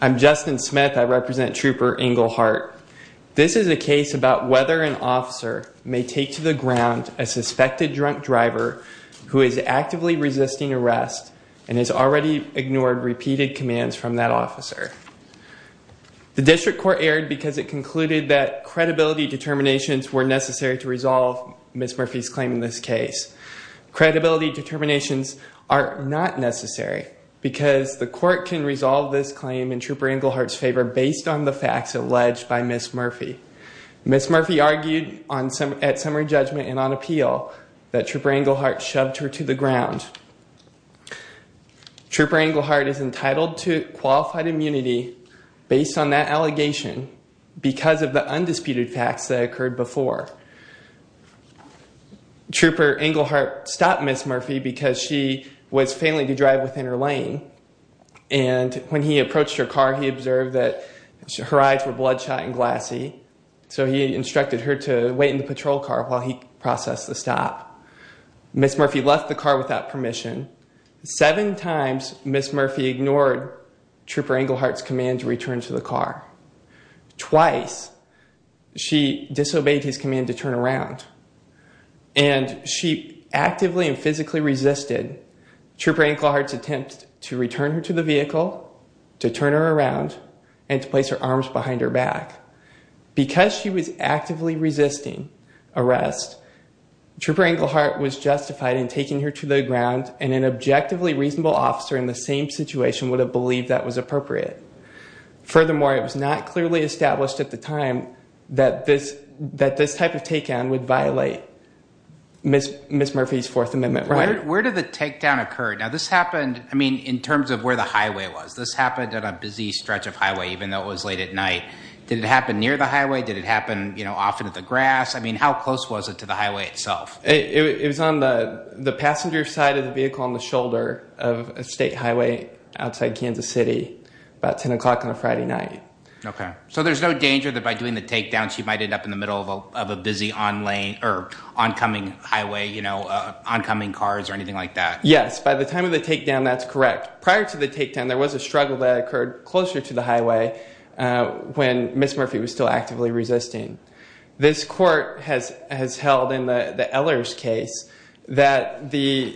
I'm Justin Smith. I represent trooper Englehardt. This is a case about whether an officer may take to the ground a suspected drunk driver who is actively resisting arrest and has already ignored repeated commands from that officer. The district court erred because it concluded that credibility determinations were necessary to resolve Ms. Murphy's claim in this case. Credibility determinations are not necessary because the court can resolve this claim in trooper Englehardt's favor based on the facts alleged by Ms. Murphy. Ms. Murphy argued at summary judgment and on appeal that trooper Englehardt shoved her to the ground. Trooper Englehardt is entitled to qualified immunity based on that allegation because of the undisputed facts that occurred before. Trooper Englehardt stopped Ms. Murphy because she was failing to drive within her lane and when he approached her car he observed that her eyes were bloodshot and glassy so he instructed her to wait in the patrol car while he processed the stop. Ms. Murphy left the car without permission. Seven times Ms. Murphy ignored trooper Englehardt's command to return to the car. Twice she disobeyed his command to turn around and she actively and physically resisted trooper Englehardt's attempt to return her to the vehicle, to turn her around, and to place her arms behind her back. Because she was actively resisting arrest, trooper Englehardt was justified in taking her to the ground and an objectively reasonable officer in the same situation would have believed that was appropriate. Furthermore, it was not clearly established at the time that this type of takedown would violate Ms. Murphy's Fourth Amendment right. Where did the takedown occur? Now this happened, I mean, in terms of where the highway was. This happened at a busy stretch of highway even though it was late at night. Did it happen near the highway? Did it happen, you know, off into the grass? I mean, how close was it to the highway itself? It was on the passenger side of the vehicle on the shoulder of a state highway outside Kansas City about 10 o'clock on a Friday night. Okay, so there's no danger that by doing the takedown she might end up in the middle of a busy oncoming highway, you know, oncoming cars or anything like that? Yes, by the time of the takedown that's correct. Prior to the takedown there was a struggle that occurred closer to the highway when Ms. Murphy was still actively resisting. This court has held in the Ehlers case that the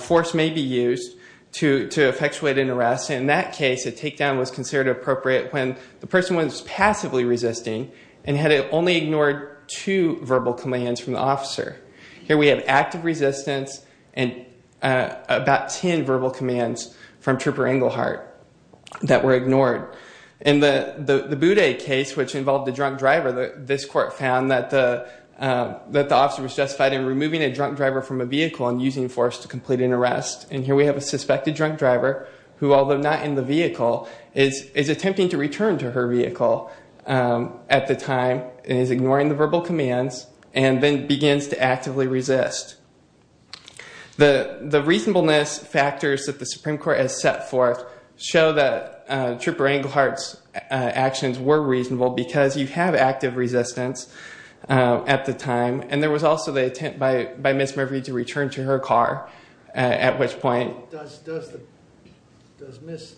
force may be used to effectuate an arrest. In that case a takedown was considered appropriate when the person was passively resisting and had only ignored two verbal commands from the officer. Here we have active resistance and about 10 verbal commands from Trooper Englehart that were ignored. In the Boudet case, which involved a drunk driver, this court found that the officer was justified in removing a drunk driver from a vehicle and using force to complete an arrest. And here we have a suspected drunk driver who, although not in the vehicle, is attempting to return to her vehicle at the time and is ignoring the verbal commands and then begins to actively resist. The reasonableness factors that the Supreme Court has set forth show that Trooper Englehart's actions were reasonable because you have active resistance at the time and there was also the attempt by Ms. Murphy to return to her car at which point. Does Ms.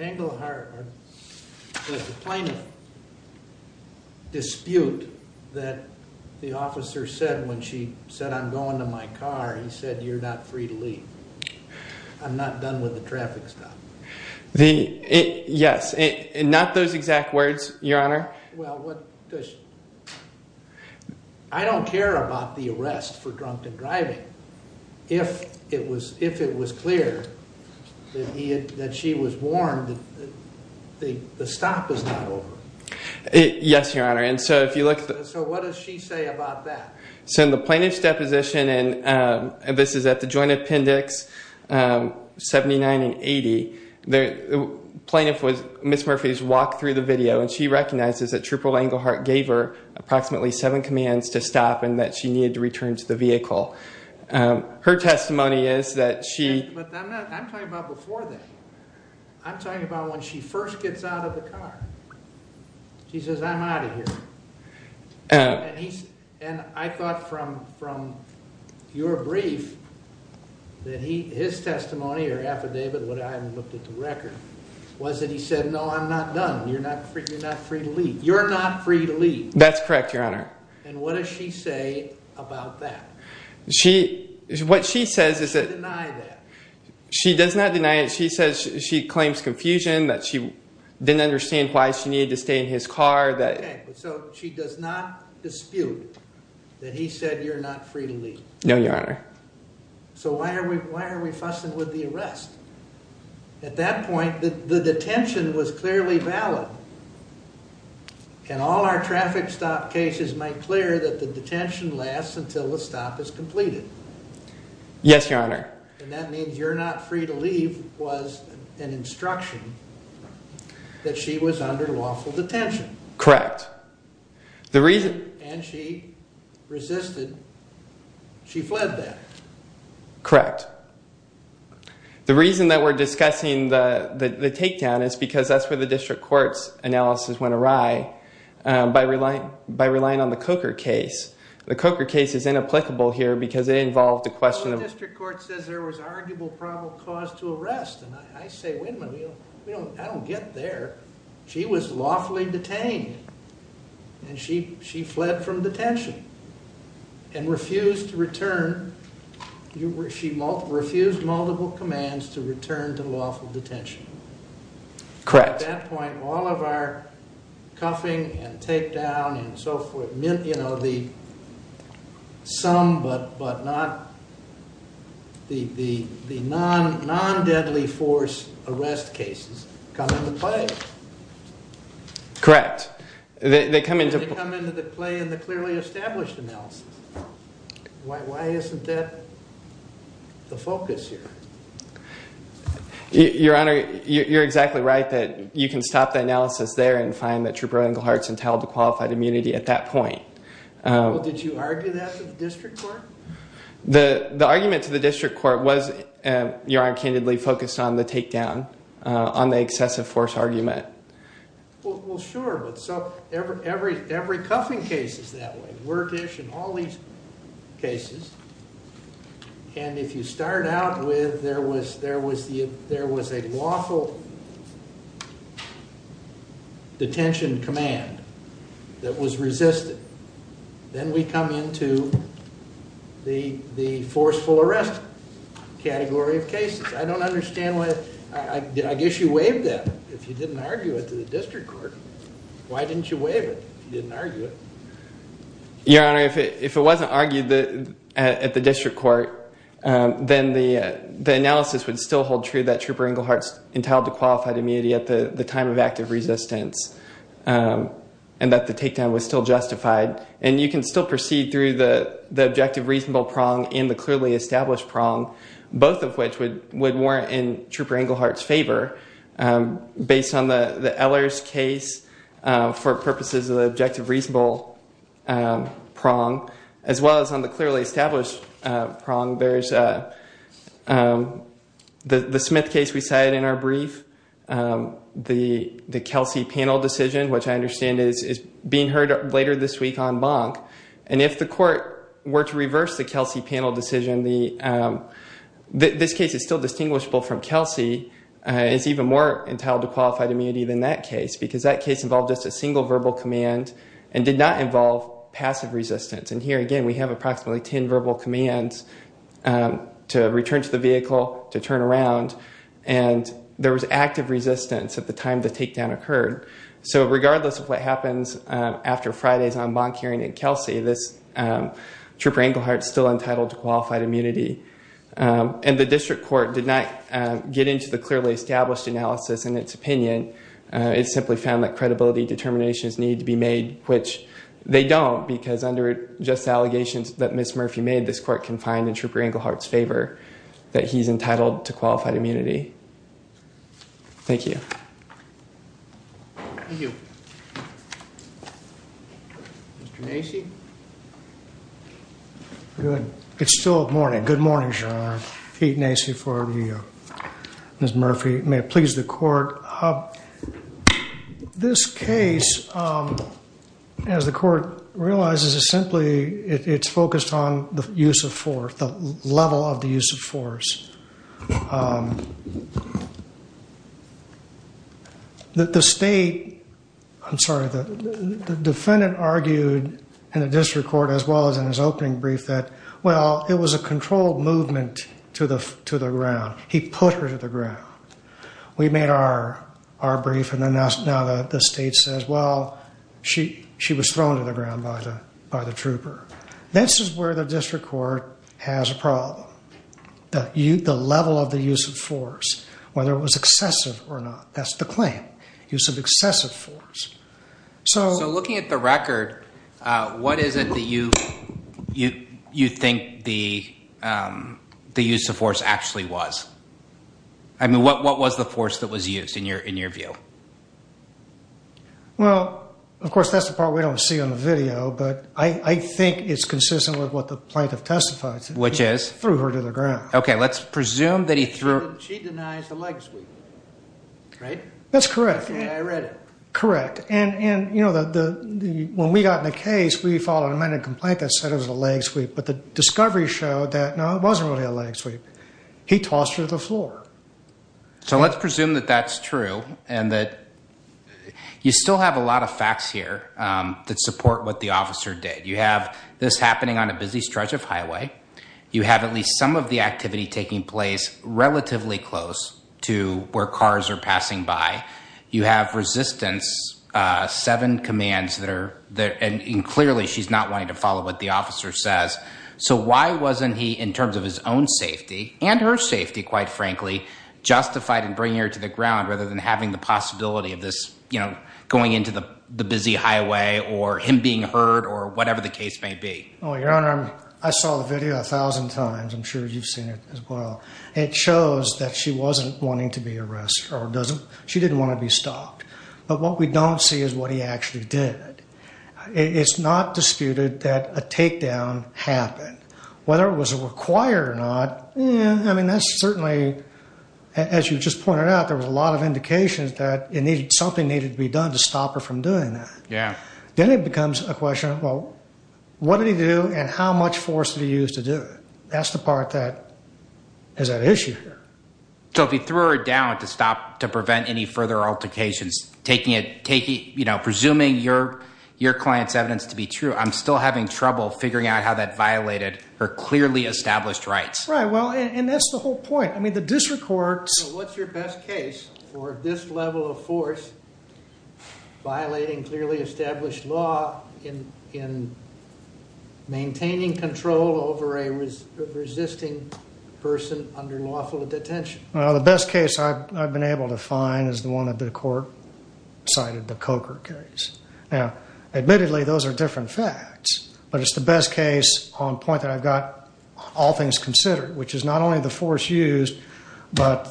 Englehart, does the plaintiff dispute that the officer said when she said, I'm going to my car, he said, you're not free to leave. I'm not done with the traffic stop. Yes, not those exact words, Your Honor. Well, I don't care about the arrest for drunken driving. If it was clear that she was warned, the stop is not over. Yes, Your Honor. So what does she say about that? So in the plaintiff's deposition, and this is at the Joint Appendix 79 and 80, the plaintiff was Ms. Murphy's walk through the video and she recognizes that Trooper Englehart gave her approximately seven commands to stop and that she needed to return to the vehicle. Her testimony is that she... I thought from your brief that his testimony or affidavit, what I haven't looked at the record, was that he said, no, I'm not done. You're not free to leave. You're not free to leave. That's correct, Your Honor. And what does she say about that? She, what she says is that... She doesn't deny that. She does not deny it. She says she claims confusion, that she didn't understand why she needed to stay in his car. Okay, so she does not dispute that he said you're not free to leave. No, Your Honor. So why are we fussing with the arrest? At that point, the detention was clearly valid and all our traffic stop cases make clear that the detention lasts until the stop is completed. Yes, Your Honor. And that means you're not free to leave was an instruction that she was under lawful detention. Correct. And she resisted. She fled that. Correct. The reason that we're discussing the takedown is because that's where the district court's analysis went awry by relying on the Coker case. The Coker case is inapplicable here because it involved a question of... The district court says there was arguable probable cause to arrest. And I say, wait a minute, I don't get there. She was lawfully detained and she fled from detention and refused to return. She refused multiple commands to return to lawful detention. Correct. At that point, all of our cuffing and takedown and so forth meant the sum but not the non-deadly force arrest cases come into play. Correct. They come into play in the clearly established analysis. Why isn't that the focus here? Your Honor, you're exactly right that you can stop the analysis there and find that Trooper Englehart's entitled to qualified immunity at that point. Well, did you argue that with the district court? The argument to the district court was, Your Honor, candidly focused on the takedown, on the excessive force argument. Well, sure, but so every cuffing case is that way. And if you start out with there was a lawful detention command that was resisted, then we come into the forceful arrest category of cases. I don't understand why. I guess you waived that. If you didn't argue it to the district court, why didn't you waive it? Your Honor, if it wasn't argued at the district court, then the analysis would still hold true that Trooper Englehart's entitled to qualified immunity at the time of active resistance and that the takedown was still justified. And you can still proceed through the objective reasonable prong and the clearly established prong, both of which would warrant in Trooper Englehart's favor. Based on the Ehlers case, for purposes of the objective reasonable prong, as well as on the clearly established prong, there's the Smith case we cited in our brief, the Kelsey panel decision, which I understand is being heard later this week on Bonk. And if the court were to reverse the Kelsey panel decision, this case is still distinguishable from Kelsey. It's even more entitled to qualified immunity than that case because that case involved just a single verbal command and did not involve passive resistance. And here, again, we have approximately ten verbal commands to return to the vehicle, to turn around, and there was active resistance at the time the takedown occurred. So regardless of what happens after Friday's on Bonk hearing in Kelsey, Trooper Englehart's still entitled to qualified immunity. And the district court did not get into the clearly established analysis in its opinion. It simply found that credibility determinations needed to be made, which they don't because under just allegations that Ms. Murphy made, this court can find in Trooper Englehart's favor that he's entitled to qualified immunity. Thank you. Thank you. Mr. Nacy? Good. It's still morning. Good morning, Your Honor. Pete Nacy for Ms. Murphy. May it please the court. This case, as the court realizes, is simply, it's focused on the use of force, the level of the use of force. The state, I'm sorry, the defendant argued in the district court as well as in his opening brief that, well, it was a controlled movement to the ground. He put her to the ground. We made our brief and now the state says, well, she was thrown to the ground by the trooper. This is where the district court has a problem. The level of the use of force, whether it was excessive or not, that's the claim. Use of excessive force. So looking at the record, what is it that you think the use of force actually was? I mean, what was the force that was used in your view? Well, of course, that's the part we don't see on the video, but I think it's consistent with what the plaintiff testified to. Which is? He threw her to the ground. Okay, let's presume that he threw her. She denies a leg sweep, right? That's correct. I read it. Correct. And, you know, when we got in the case, we filed an amended complaint that said it was a leg sweep, but the discovery showed that, no, it wasn't really a leg sweep. He tossed her to the floor. So let's presume that that's true and that you still have a lot of facts here that support what the officer did. You have this happening on a busy stretch of highway. You have at least some of the activity taking place relatively close to where cars are passing by. You have resistance, seven commands that are there, and clearly she's not wanting to follow what the officer says. So why wasn't he, in terms of his own safety and her safety, quite frankly, justified in bringing her to the ground rather than having the possibility of this, you know, going into the busy highway or him being heard or whatever the case may be? Well, Your Honor, I saw the video a thousand times. I'm sure you've seen it as well. It shows that she wasn't wanting to be arrested. She didn't want to be stopped. But what we don't see is what he actually did. It's not disputed that a takedown happened. Whether it was required or not, I mean, that's certainly, as you just pointed out, there was a lot of indications that something needed to be done to stop her from doing that. Yeah. Then it becomes a question of, well, what did he do and how much force did he use to do it? That's the part that is at issue here. So if he threw her down to stop to prevent any further altercations, taking it, you know, presuming your client's evidence to be true, I'm still having trouble figuring out how that violated her clearly established rights. Right. Well, and that's the whole point. What's your best case for this level of force violating clearly established law in maintaining control over a resisting person under lawful detention? Well, the best case I've been able to find is the one that the court cited, the Coker case. Admittedly, those are different facts, but it's the best case on point that I've got all things considered, which is not only the force used, but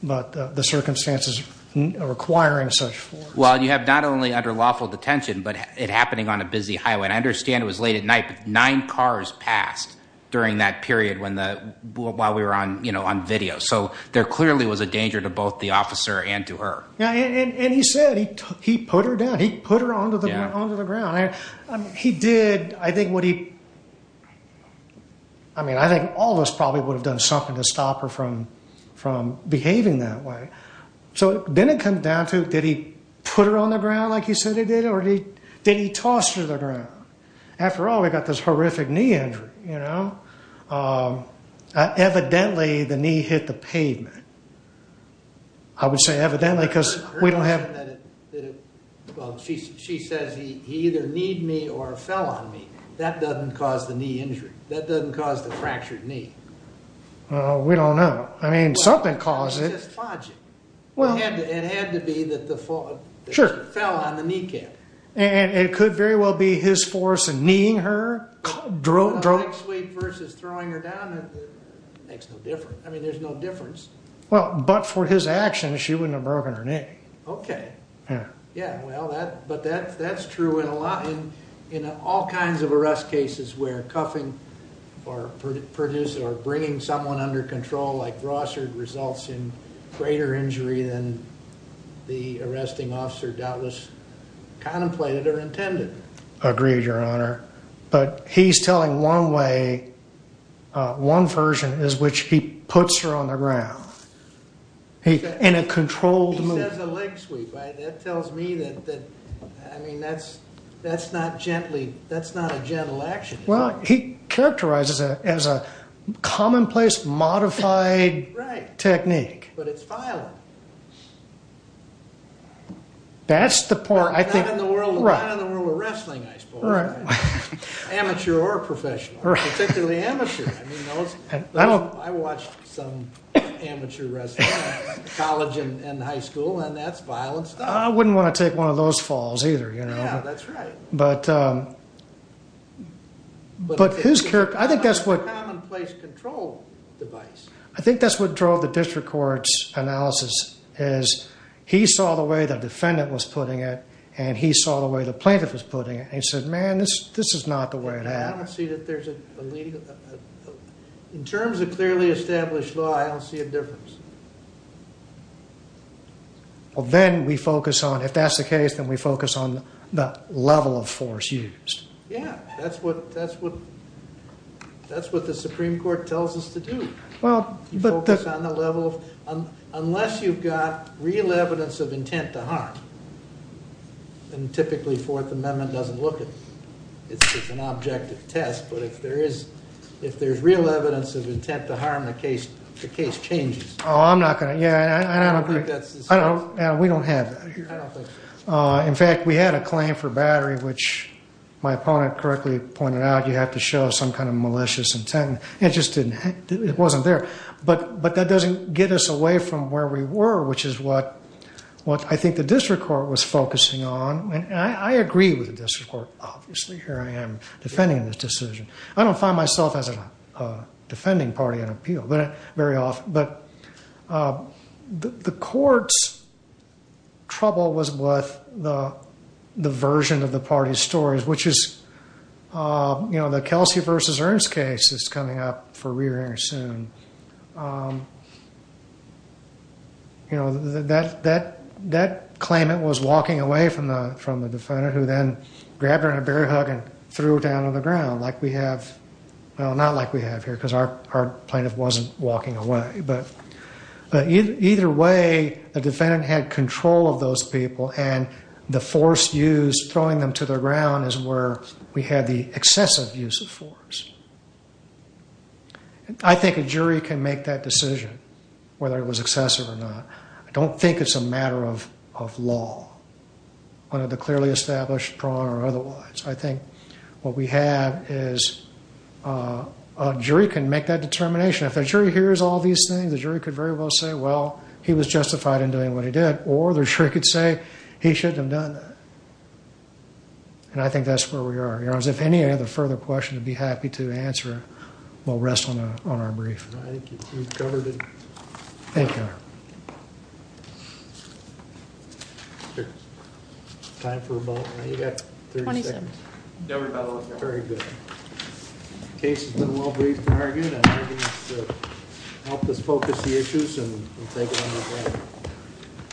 the circumstances requiring such force. Well, you have not only under lawful detention, but it happening on a busy highway. And I understand it was late at night, but nine cars passed during that period while we were on video. So there clearly was a danger to both the officer and to her. And he said he put her down. He put her onto the ground. He did. I think what he. I mean, I think all of us probably would have done something to stop her from from behaving that way. So then it comes down to, did he put her on the ground like you said he did, or did he toss her to the ground? After all, we got this horrific knee injury, you know, evidently the knee hit the pavement. I would say evidently, because we don't have. She says he either need me or fell on me. That doesn't cause the knee injury. That doesn't cause the fractured knee. We don't know. I mean, something caused it. Well, it had to be that the fall fell on the kneecap. And it could very well be his force and kneeing her. Leg sweep versus throwing her down. Makes no difference. I mean, there's no difference. Well, but for his action, she wouldn't have broken her knee. Okay. Yeah. Yeah. Well, that but that that's true in a lot. In all kinds of arrest cases where cuffing or produce or bringing someone under control like Rossard results in greater injury than the arresting officer doubtless contemplated or intended. Agreed, Your Honor. But he's telling one way. One version is which he puts her on the ground. In a controlled movement. He says a leg sweep. That tells me that. I mean, that's that's not gently. That's not a gentle action. Well, he characterizes it as a commonplace modified. Right. Technique. But it's violent. That's the part I think. Not in the world where we're wrestling, I suppose. Right. Amateur or professional. Right. Particularly amateur. I mean, I don't. I watched some amateur wrestling. College and high school. And that's violence. I wouldn't want to take one of those falls either. You know, that's right. But. But his character, I think that's what. Commonplace control device. I think that's what drove the district court's analysis is he saw the way the defendant was putting it. And he saw the way the plaintiff was putting it. And he said, man, this is not the way it happened. I don't see that there's a. In terms of clearly established law, I don't see a difference. Well, then we focus on if that's the case, then we focus on the level of force used. Yeah, that's what that's what. That's what the Supreme Court tells us to do. Well, but. Focus on the level of. Unless you've got real evidence of intent to harm. And typically, 4th Amendment doesn't look at. It's just an objective test. But if there is. If there's real evidence of intent to harm the case, the case changes. I'm not going to. I don't think that's. I don't know. We don't have. I don't think so. In fact, we had a claim for battery, which my opponent correctly pointed out. You have to show some kind of malicious intent. It just didn't. It wasn't there. But but that doesn't get us away from where we were, which is what. What I think the district court was focusing on. And I agree with the district court. Obviously, here I am defending this decision. I don't find myself as a defending party on appeal, but very often. But the court's. Trouble was with the version of the party stories, which is. You know, the Kelsey versus Ernst case is coming up for rearing soon. You know that that that claimant was walking away from the from the defendant who then grabbed her in a bear hug and threw her down on the ground like we have. Well, not like we have here because our our plaintiff wasn't walking away. But either way, the defendant had control of those people and the force used throwing them to the ground is where we had the excessive use of force. And I think a jury can make that decision, whether it was excessive or not. I don't think it's a matter of of law. One of the clearly established prong or otherwise. I think what we have is a jury can make that determination. If a jury hears all these things, the jury could very well say, well, he was justified in doing what he did. Or the jury could say he shouldn't have done that. And I think that's where we are. If any other further questions, I'd be happy to answer. We'll rest on our brief. Thank you. Thank you. Time for about 30 seconds. Very good. Case has been well briefed. Very good. Help us focus the issues and we'll take it on with that.